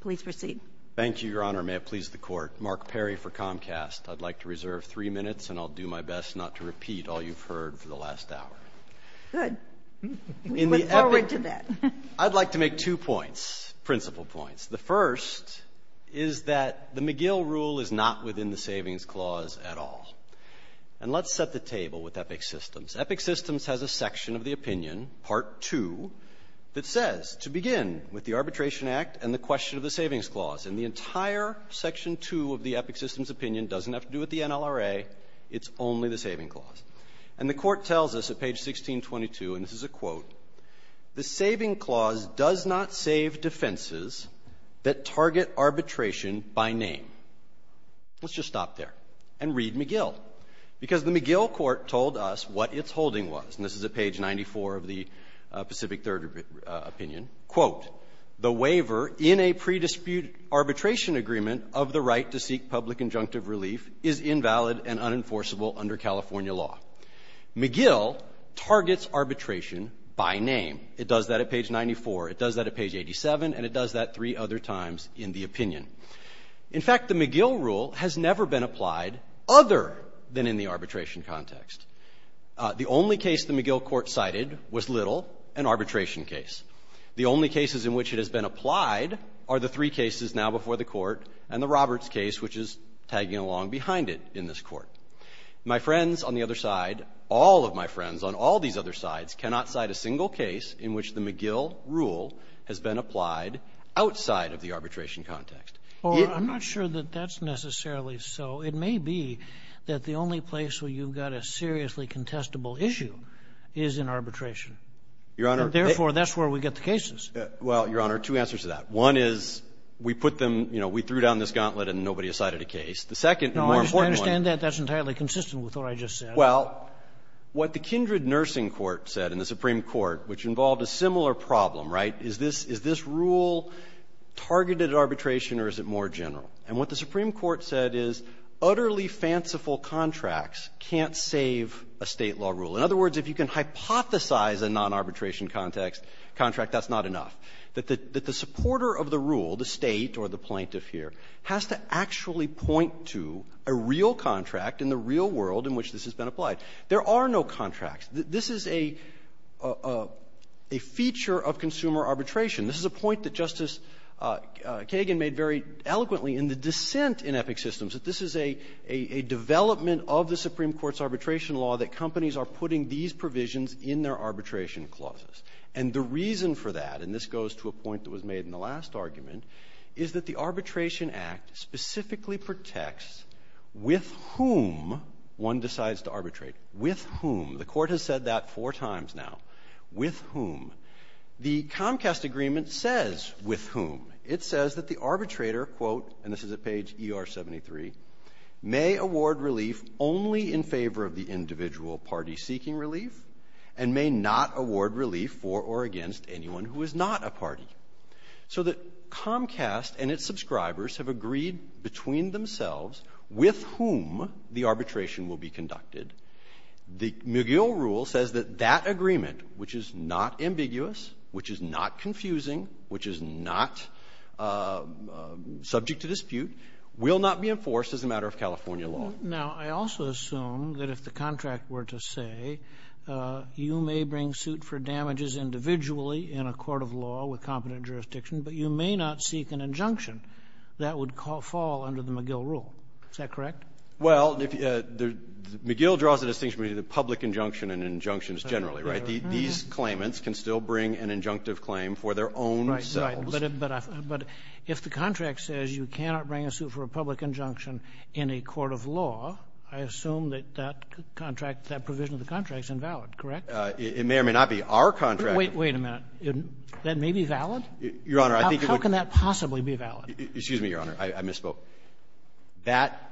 Please proceed. Thank you, Your Honor. May it please the Court. Mark Perry for Comcast. I'd like to reserve three minutes, and I'll do my best not to repeat all you've heard for the last hour. Good. We look forward to that. I'd like to make two points, principal points. The first is that the McGill rule is not within the Savings Clause at all. And let's set the table with Epic Systems. Epic Systems has a section of the opinion, Part 2, that says, to begin with the Arbitration Act and the question of the Savings Clause. And the entire Section 2 of the Epic Systems opinion doesn't have to do with the NLRA. It's only the Savings Clause. And the Court tells us at page 1622, and this is a quote, the Savings Clause does not save defenses that target arbitration by name. Let's just stop there and read McGill, because the McGill court told us what its holding was. And this is at page 94 of the Pacific Third opinion. Quote, the waiver in a pre-dispute arbitration agreement of the right to seek public injunctive relief is invalid and unenforceable under California law. McGill targets arbitration by name. It does that at page 94. It does that at page 87, and it does that three other times in the opinion. In fact, the McGill rule has never been applied other than in the arbitration context. The only case the McGill court cited was Little, an arbitration case. The only cases in which it has been applied are the three cases now before the Court and the Roberts case, which is tagging along behind it in this Court. My friends on the other side, all of my friends on all these other sides cannot cite a single case in which the McGill rule has been applied outside of the arbitration context. Or I'm not sure that that's necessarily so. It may be that the only place where you've got a seriously contestable issue is in arbitration. Your Honor, therefore, that's where we are. We've got the cases. Well, Your Honor, two answers to that. One is, we put them, you know, we threw down this gauntlet and nobody cited a case. The second and more important one No, I understand that. That's entirely consistent with what I just said. Well, what the Kindred Nursing Court said in the Supreme Court, which involved a similar problem, right, is this rule targeted at arbitration or is it more general? And what the Supreme Court said is utterly fanciful contracts can't save a State law rule. In other words, if you can hypothesize a non-arbitration context, contract, that's not enough. That the supporter of the rule, the State or the plaintiff here, has to actually point to a real contract in the real world in which this has been applied. There are no contracts. This is a feature of consumer arbitration. This is a point that Justice Kagan made very eloquently in the dissent in Epic Systems, that this is a development of the Supreme Court's arbitration law that companies are putting these provisions in their arbitration clauses. And the reason for that, and this goes to a point that was made in the last argument, is that the Arbitration Act specifically protects with whom one decides to arbitrate, with whom. The Court has said that four times now, with whom. The Comcast Agreement says with whom. It says that the arbitrator, quote, and this is at page ER73, may award relief only in favor of the individual party seeking relief and may not award relief for or against anyone who is not a party. So that Comcast and its subscribers have agreed between themselves with whom the arbitration will be conducted. The McGill rule says that that agreement, which is not ambiguous, which is not confusing, which is not subject to dispute, will not be enforced as a matter of California law. Now, I also assume that if the contract were to say, you may bring suit for damages individually in a court of law with competent jurisdiction, but you may not seek an injunction. That would fall under the McGill rule. Is that correct? Well, McGill draws the distinction between the public injunction and injunctions generally, right? These claimants can still bring an injunctive claim for their own selves. Right, but if the contract says you cannot bring a suit for a public injunction in a court of law, I assume that that contract, that provision of the contract is invalid, correct? It may or may not be our contract. Wait, wait a minute. That may be valid? Your Honor, I think it would be. How can that possibly be valid? Excuse me, Your Honor, I misspoke. That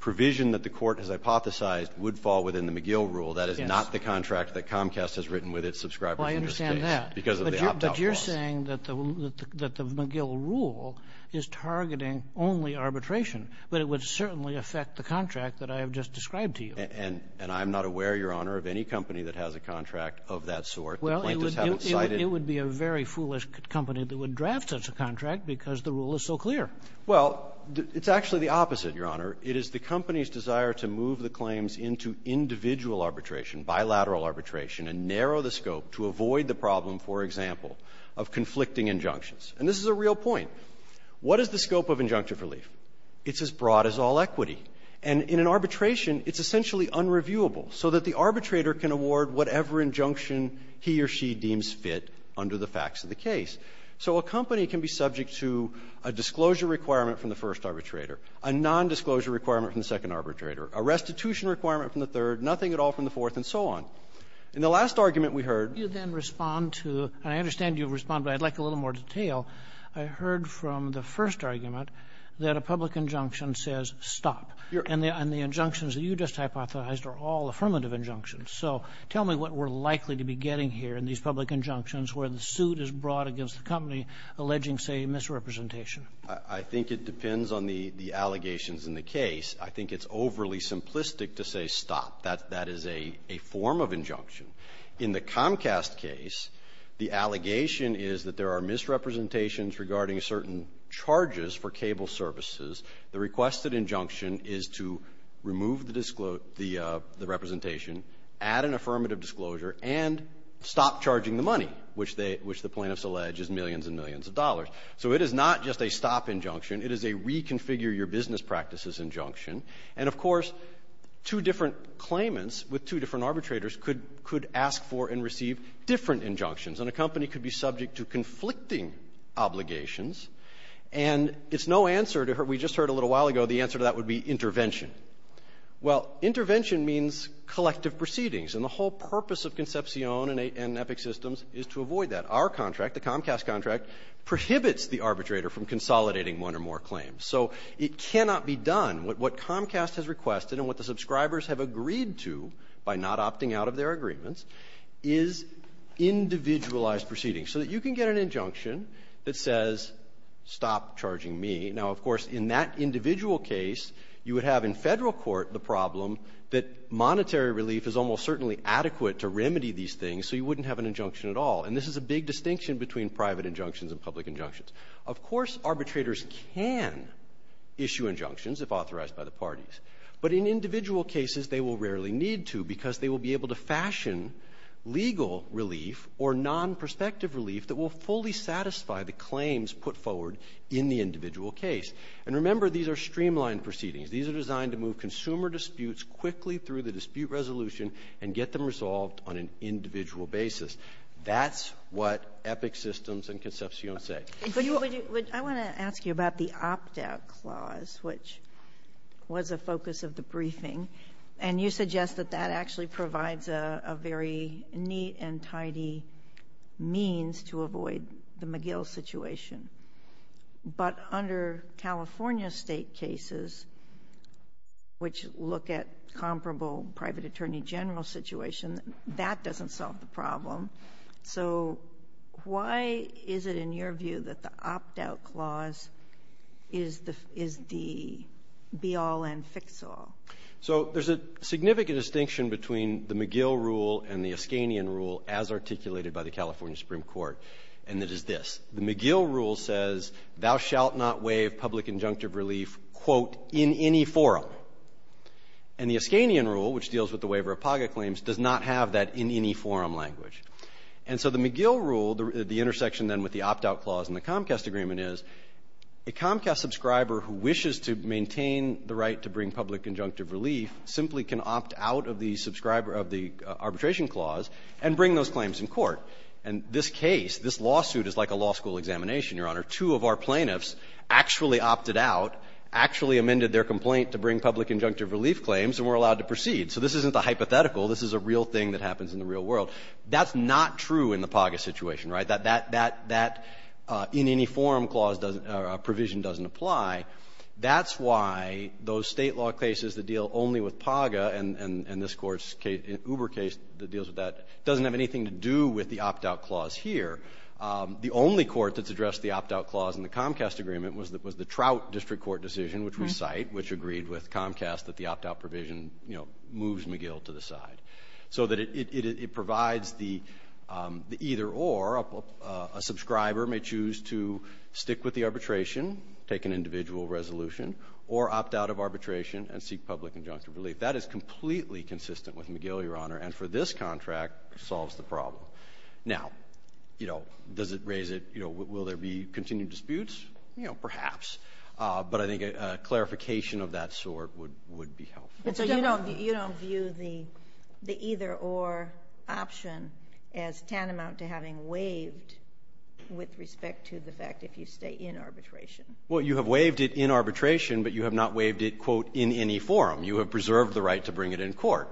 provision that the Court has hypothesized would fall within the McGill rule. That is not the contract that Comcast has written with its subscribers in this case. I understand that, but you're saying that the McGill rule is targeting only arbitration, but it would certainly affect the contract that I have just described to you. And I'm not aware, Your Honor, of any company that has a contract of that sort. The plaintiffs haven't cited it. Well, it would be a very foolish company that would draft such a contract because the rule is so clear. Well, it's actually the opposite, Your Honor. It is the company's desire to move the claims into individual arbitration, bilateral arbitration, and narrow the scope to avoid the problem, for example, of conflicting injunctions. And this is a real point. What is the scope of injunctive relief? It's as broad as all equity. And in an arbitration, it's essentially unreviewable, so that the arbitrator can award whatever injunction he or she deems fit under the facts of the case. So a company can be subject to a disclosure requirement from the first arbitrator, a nondisclosure requirement from the second arbitrator, a restitution requirement from the third, nothing at all from the fourth, and so on. In the last argument we heard you then respond to the – and I understand you've public injunction says stop. And the injunctions that you just hypothesized are all affirmative injunctions. So tell me what we're likely to be getting here in these public injunctions where the suit is brought against the company alleging, say, misrepresentation. I think it depends on the allegations in the case. I think it's overly simplistic to say stop. That is a form of injunction. In the Comcast case, the allegation is that there are misrepresentations regarding certain charges for cable services. The requested injunction is to remove the disclosure – the representation, add an affirmative disclosure, and stop charging the money, which they – which the plaintiffs allege is millions and millions of dollars. So it is not just a stop injunction. It is a reconfigure-your-business-practices injunction. And, of course, two different claimants with two different arbitrators could – could ask for and receive different injunctions. And a company could be subject to conflicting obligations, and it's no answer to – we just heard a little while ago the answer to that would be intervention. Well, intervention means collective proceedings. And the whole purpose of Concepcion and Epic Systems is to avoid that. Our contract, the Comcast contract, prohibits the arbitrator from consolidating one or more claims. So it cannot be done. What Comcast has requested and what the subscribers have agreed to by not opting out of their agreements is individualized proceedings, so that you can get an injunction that says, stop charging me. Now, of course, in that individual case, you would have in Federal court the problem that monetary relief is almost certainly adequate to remedy these things, so you wouldn't have an injunction at all. And this is a big distinction between private injunctions and public injunctions. Of course, arbitrators can issue injunctions if authorized by the parties. But in individual cases, they will rarely need to, because they will be able to fashion legal relief or non-prospective relief that will fully satisfy the claims put forward in the individual case. And remember, these are streamlined proceedings. These are designed to move consumer disputes quickly through the dispute resolution and get them resolved on an individual basis. That's what Epic Systems and Concepcion say. I want to ask you about the opt-out clause, which was a focus of the briefing, and you suggest that that actually provides a very neat and tidy means to avoid the McGill situation. But under California State cases, which look at comparable private attorney general situation, that doesn't solve the problem. So why is it, in your view, that the opt-out clause is the be-all and fix-all? So there's a significant distinction between the McGill rule and the Ascanian rule, as articulated by the California Supreme Court, and it is this. The McGill rule says, thou shalt not waive public injunctive relief, quote, in any forum. And the Ascanian rule, which deals with the waiver of PAGA claims, does not have that in any forum language. And so the McGill rule, the intersection then with the opt-out clause in the Comcast agreement is, a Comcast subscriber who wishes to maintain the right to bring public injunctive relief simply can opt out of the subscriber of the arbitration clause and bring those claims in court. And this case, this lawsuit is like a law school examination, Your Honor. Two of our plaintiffs actually opted out, actually amended their complaint to bring public injunctive relief claims, and were allowed to proceed. So this isn't a hypothetical. This is a real thing that happens in the real world. That's not true in the PAGA situation, right? That in any forum provision doesn't apply. That's why those state law cases that deal only with PAGA and this court's Uber case that deals with that doesn't have anything to do with the opt-out clause here. The only court that's addressed the opt-out clause in the Comcast agreement was the Trout District Court decision, which we cite, which agreed with Comcast that the opt-out provision, you know, moves McGill to the side. So that it provides the either or, a subscriber may choose to stick with the arbitration, take an individual resolution, or opt out of arbitration and seek public injunctive relief. That is completely consistent with McGill, Your Honor, and for this contract, solves the problem. Now, you know, does it raise it, you know, will there be continued disputes? You know, perhaps. But I think a clarification of that sort would be helpful. But so you don't view the either or option as tantamount to having waived with respect to the fact if you stay in arbitration? Well, you have waived it in arbitration, but you have not waived it, quote, in any forum. You have preserved the right to bring it in court.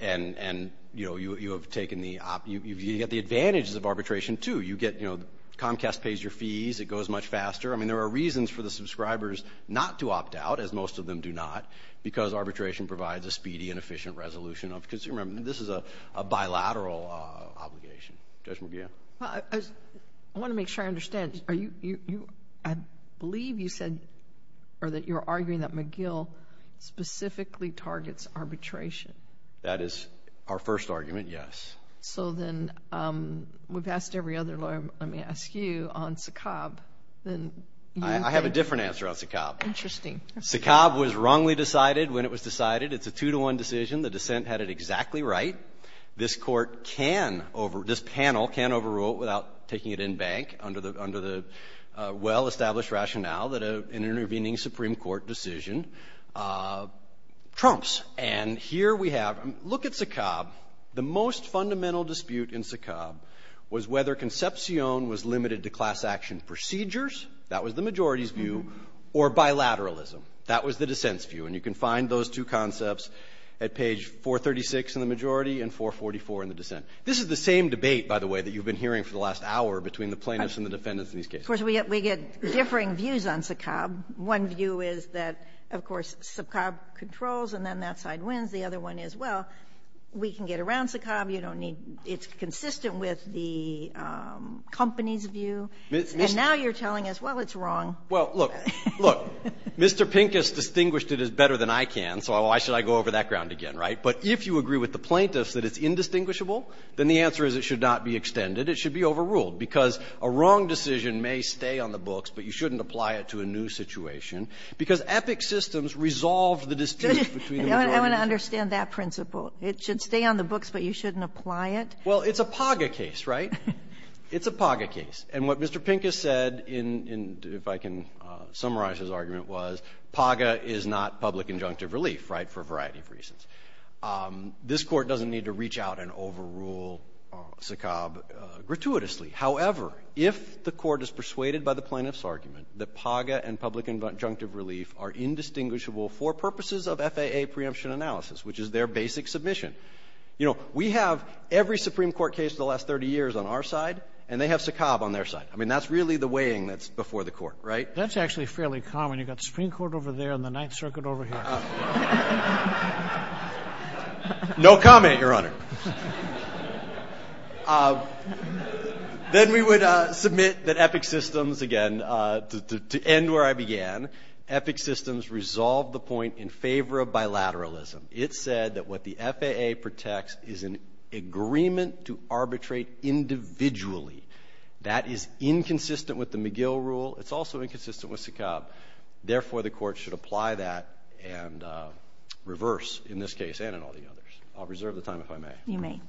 And, you know, you have taken the, you get the advantages of arbitration, too. You get, you know, Comcast pays your fees, it goes much faster. I mean, there are reasons for the subscribers not to opt out, as most of them do not, because arbitration provides a speedy and efficient resolution of consumer. I mean, this is a bilateral obligation. Judge McGill? Well, I want to make sure I understand. Are you, you, I believe you said, or that you're arguing that McGill specifically targets arbitration. That is our first argument, yes. So then, we've asked every other lawyer, let me ask you, on Sakab, then you I have a different answer on Sakab. Interesting. Sakab was wrongly decided when it was decided. It's a two-to-one decision. The dissent had it exactly right. This court can over, this panel can overrule it without taking it in bank under the well-established rationale that an intervening Supreme Court decision trumps. And here we have, look at Sakab. The most fundamental dispute in Sakab was whether concepcion was limited to class action procedures, that was the majority's view, or bilateralism, that was the dissent's view. And you can find those two concepts at page 436 in the majority and 444 in the dissent. This is the same debate, by the way, that you've been hearing for the last hour between the plaintiffs and the defendants in these cases. Of course, we get differing views on Sakab. One view is that, of course, Sakab controls and then that side wins. The other one is, well, we can get around Sakab. You don't need, it's consistent with the company's view. And now you're telling us, well, it's wrong. Well, look, look, Mr. Pincus distinguished it as better than I can, so why should I go over that ground again, right? But if you agree with the plaintiffs that it's indistinguishable, then the answer is it should not be extended. It should be overruled, because a wrong decision may stay on the books, but you shouldn't apply it to a new situation, because epic systems resolve the dispute between the majority and the plaintiffs. I want to understand that principle. It should stay on the books, but you shouldn't apply it? Well, it's a PAGA case, right? It's a PAGA case. And what Mr. Pincus said in, if I can summarize his argument, was PAGA is not public injunctive relief, right, for a variety of reasons. This Court doesn't need to reach out and overrule Sakab gratuitously. However, if the Court is persuaded by the plaintiff's argument that PAGA and public injunctive relief are the same, then we would have a PAGA preemption analysis, which is their basic submission. You know, we have every Supreme Court case of the last 30 years on our side, and they have Sakab on their side. I mean, that's really the weighing that's before the Court, right? That's actually fairly common. You've got the Supreme Court over there and the Ninth Circuit over here. No comment, Your Honor. Then we would submit that epic systems, again, to end where I began, epic systems resolve the point in favor of bilateralism. It said that what the FAA protects is an agreement to arbitrate individually. That is inconsistent with the McGill rule. It's also inconsistent with Sakab. Therefore, the Court should apply that and reverse in this case and in all the others. I'll reserve the time if I may. You may.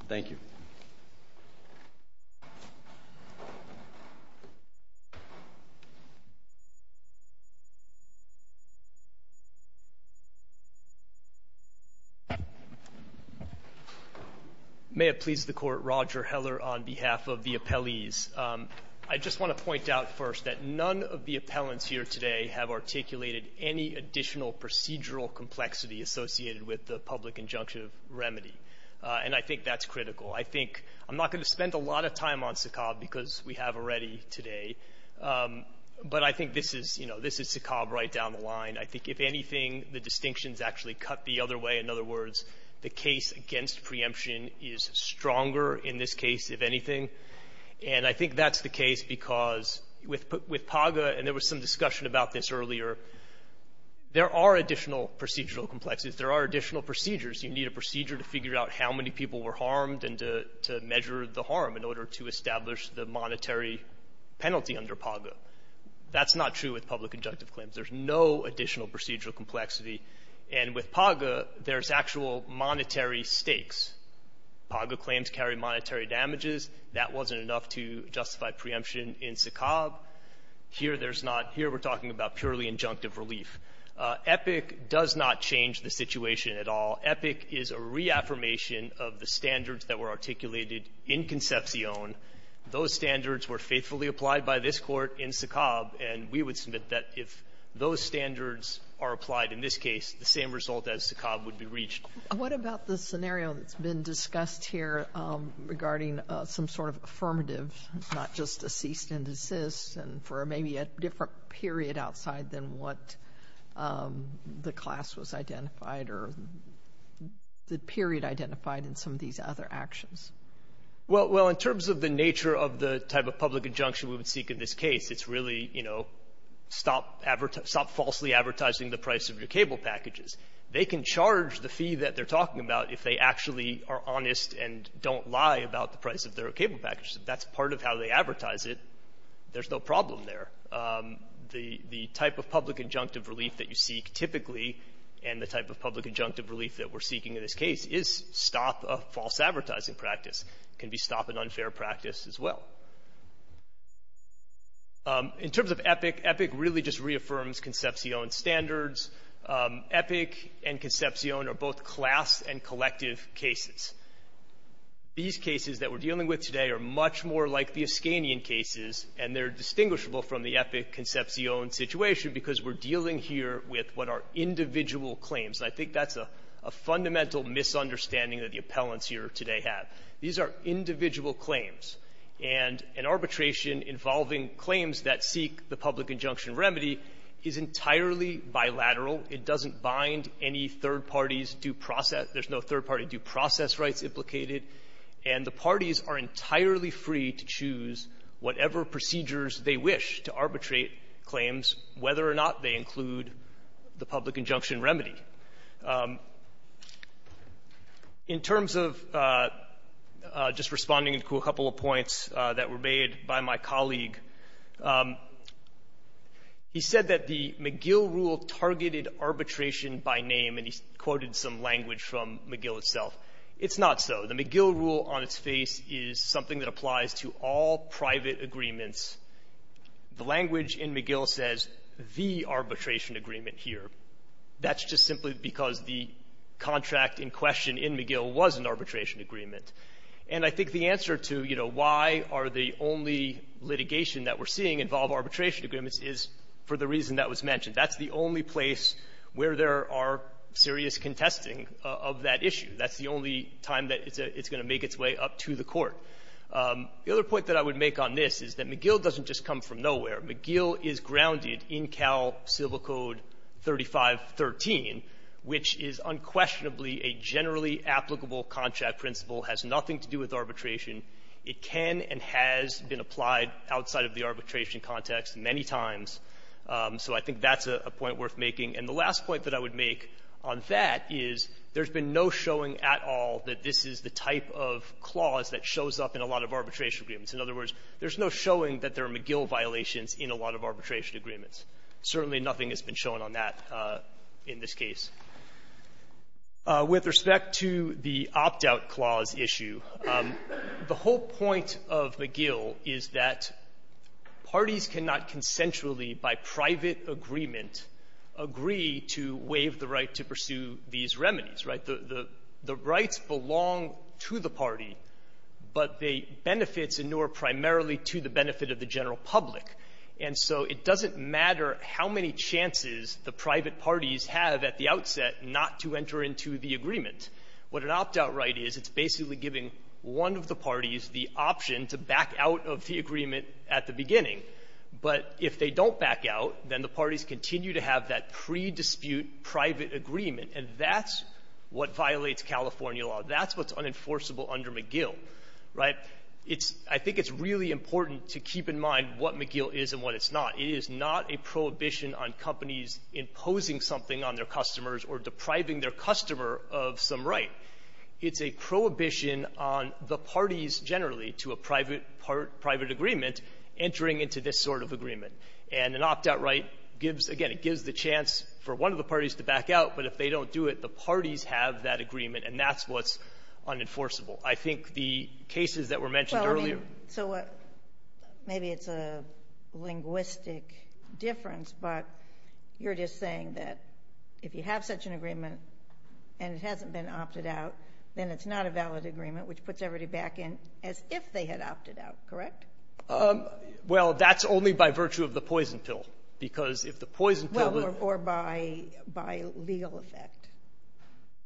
May it please the Court, Roger Heller on behalf of the appellees. I just want to point out first that none of the appellants here today have articulated any additional procedural complexity associated with the public injunctive remedy. And I think that's critical. I think I'm not going to spend a lot of time on Sakab because we have already today, but I think this is, you know, this is Sakab right down the line. I think, if anything, the distinctions actually cut the other way. In other words, the case against preemption is stronger in this case, if anything. And I think that's the case because with PAGA, and there was some discussion about this earlier, there are additional procedural complexities. There are additional procedures. You need a procedure to figure out how many people were harmed and to measure the harm in order to establish the monetary penalty under PAGA. That's not true with public injunctive claims. There's no additional procedural complexity. And with PAGA, there's actual monetary stakes. PAGA claims carry monetary damages. That wasn't enough to justify preemption in Sakab. Here, there's not. Here, we're talking about purely injunctive relief. EPIC does not change the situation at all. EPIC is a reaffirmation of the standards that were articulated in Concepcion. Those standards were faithfully applied by this Court in Sakab. And we would submit that if those standards are applied in this case, the same result as Sakab would be reached. Sotomayor, what about the scenario that's been discussed here regarding some sort of affirmative, not just a cease and desist, and for maybe a different period outside than what the class was identified or the period identified in some of these other actions? Well, in terms of the nature of the type of public injunction we would seek in this case, it's really, you know, stop falsely advertising the price of your cable packages. They can charge the fee that they're talking about if they actually are honest and don't lie about the price of their cable packages. If that's part of how they advertise it, there's no problem there. The type of public injunctive relief that you seek typically and the type of public injunctive relief that we're seeking in this case is stop a false advertising practice. Can be stop an unfair practice as well. In terms of EPIC, EPIC really just reaffirms Concepcion standards. EPIC and Concepcion are both class and collective cases. These cases that we're dealing with today are much more like the Ascanian cases, and they're distinguishable from the EPIC-Concepcion situation because we're dealing here with what are individual claims. I think that's a fundamental misunderstanding that the appellants here today have. These are individual claims. And an arbitration involving claims that seek the public injunction remedy is entirely bilateral. It doesn't bind any third parties due process. There's no third-party due process rights implicated. And the parties are entirely free to choose whatever procedures they wish to arbitrate claims, whether or not they include the public injunction remedy. In terms of just responding to a couple of points that were made by my colleague, he said that the McGill rule targeted arbitration by name, and he quoted some language from McGill itself. It's not so. The McGill rule on its face is something that applies to all private agreements. The language in McGill says, the arbitration agreement here. That's just simply because the contract in question in McGill was an arbitration agreement. And I think the answer to, you know, why are the only litigation that we're seeing involve arbitration agreements is for the reason that was mentioned. That's the only place where there are serious contesting of that issue. That's the only time that it's going to make its way up to the Court. The other point that I would make on this is that McGill doesn't just come from nowhere. McGill is grounded in Cal Civil Code 3513, which is unquestionably a generally applicable contract principle, has nothing to do with arbitration. It can and has been applied outside of the arbitration context many times. So I think that's a point worth making. And the last point that I would make on that is there's been no showing at all that this is the type of clause that shows up in a lot of arbitration agreements. In other words, there's no showing that there are McGill violations in a lot of arbitration agreements. Certainly nothing has been shown on that in this case. With respect to the opt-out clause issue, the whole point of McGill is that parties cannot consensually, by private agreement, agree to waive the right to pursue these remedies, right? The rights belong to the party, but they benefit in no appropriate way, or primarily to the benefit of the general public. And so it doesn't matter how many chances the private parties have at the outset not to enter into the agreement. What an opt-out right is, it's basically giving one of the parties the option to back out of the agreement at the beginning. But if they don't back out, then the parties continue to have that pre-dispute private agreement. And that's what violates California law. That's what's unenforceable under McGill, right? I think it's really important to keep in mind what McGill is and what it's not. It is not a prohibition on companies imposing something on their customers or depriving their customer of some right. It's a prohibition on the parties, generally, to a private agreement, entering into this sort of agreement. And an opt-out right gives, again, it gives the chance for one of the parties to back out. But if they don't do it, the parties have that agreement. And that's what's unenforceable. I think the cases that were mentioned earlier — Well, I mean, so what — maybe it's a linguistic difference, but you're just saying that if you have such an agreement and it hasn't been opted out, then it's not a valid agreement, which puts everybody back in as if they had opted out, correct? Well, that's only by virtue of the poison pill, because if the poison pill — Well, or by — by legal effect.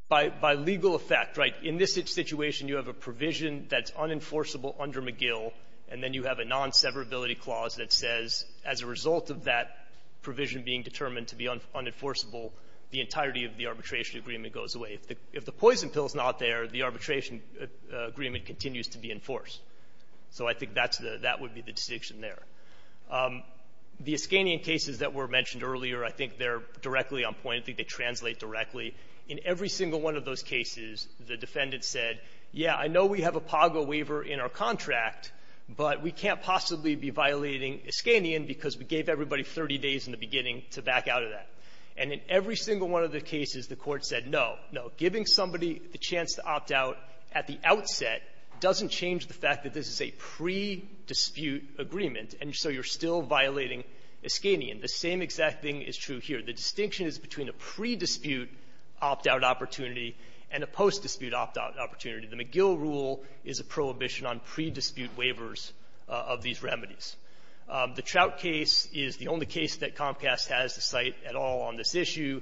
By — by legal effect, right. In this situation, you have a provision that's unenforceable under McGill, and then you have a non-severability clause that says as a result of that provision being determined to be unenforceable, the entirety of the arbitration agreement goes away. If the poison pill is not there, the arbitration agreement continues to be enforced. So I think that's the — that would be the distinction there. The Iskanian cases that were mentioned earlier, I think they're directly on point. I think they translate directly. In every single one of those cases, the defendant said, yeah, I know we have a PAGO waiver in our contract, but we can't possibly be violating Iskanian because we gave everybody 30 days in the beginning to back out of that. And in every single one of the cases, the Court said, no, no, giving somebody the chance to opt out at the outset doesn't change the fact that this is a pre-dispute agreement, and so you're still violating Iskanian. The same exact thing is true here. The distinction is between a pre-dispute opt-out opportunity and a post-dispute opt-out opportunity. The McGill rule is a prohibition on pre-dispute waivers of these remedies. The Trout case is the only case that Comcast has to cite at all on this issue.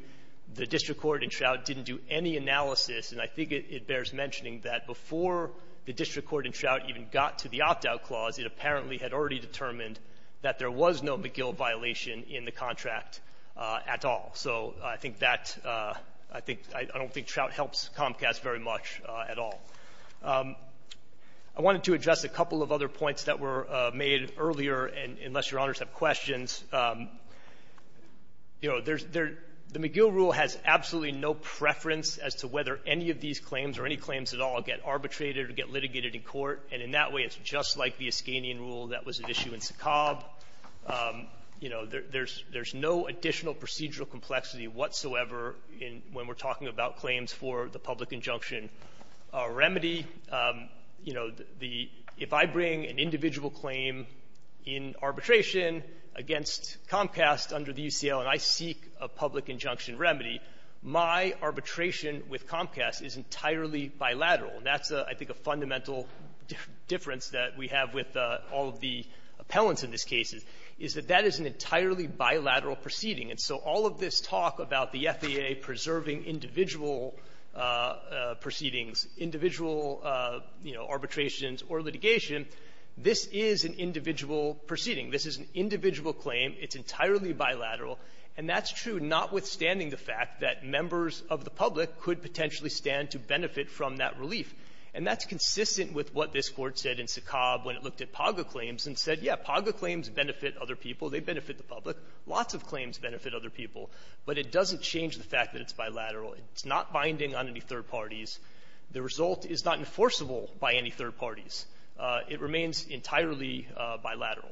The district court in Trout didn't do any analysis, and I think it bears mentioning that before the district court in Trout even got to the opt-out clause, it apparently had already determined that there was no McGill violation in the contract at all. So I think that — I think — I don't think Trout helps Comcast very much at all. I wanted to address a couple of other points that were made earlier, and unless Your Honors have questions, you know, there's — the McGill rule has absolutely no preference as to whether any of these claims or any claims at all get arbitrated or get litigated in court. And in that way, it's just like the Iskanian rule that was at issue in Saqqab. You know, there's — there's no additional procedural complexity whatsoever in — when we're talking about claims for the public injunction remedy. You know, the — if I bring an individual claim in arbitration against Comcast under the UCL and I seek a public injunction remedy, my arbitration with Comcast is entirely bilateral. And that's, I think, a fundamental difference that we have with all of the appellants in this case, is that that is an entirely bilateral proceeding. And so all of this talk about the FAA preserving individual proceedings, individual, you know, arbitrations or litigation, this is an individual proceeding. This is an individual claim. It's entirely bilateral. And that's true, notwithstanding the fact that members of the public could potentially stand to benefit from that relief. And that's consistent with what this Court said in Saqqab when it looked at PAGA claims and said, yeah, PAGA claims benefit other people, they benefit the public, lots of claims benefit other people, but it doesn't change the fact that it's bilateral. It's not binding on any third parties. The result is not enforceable by any third parties. It remains entirely bilateral.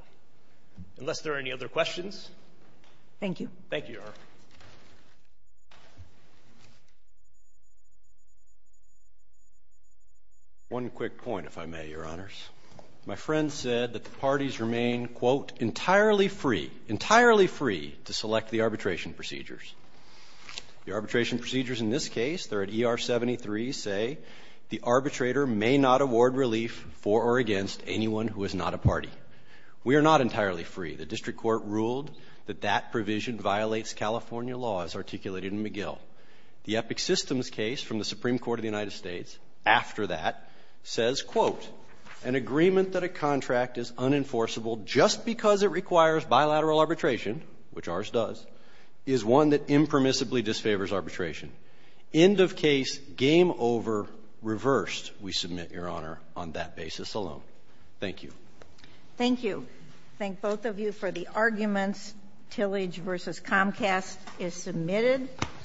Unless there are any other questions. Thank you. Thank you, Your Honor. One quick point, if I may, Your Honors. My friend said that the parties remain, quote, entirely free, entirely free to select the arbitration procedures. The arbitration procedures in this case, they're at ER 73, say the arbitrator may not award relief for or against anyone who is not a party. We are not entirely free. The district court ruled that that provision violates California law, as articulated in McGill. The Epic Systems case from the Supreme Court of the United States, after that, says, quote, an agreement that a contract is unenforceable just because it requires bilateral arbitration, which ours does, is one that impermissibly disfavors arbitration. End of case, game over, reversed, we submit, Your Honor, on that basis alone. Thank you. Thank you. Thank both of you for the arguments. Tillage versus Comcast is submitted.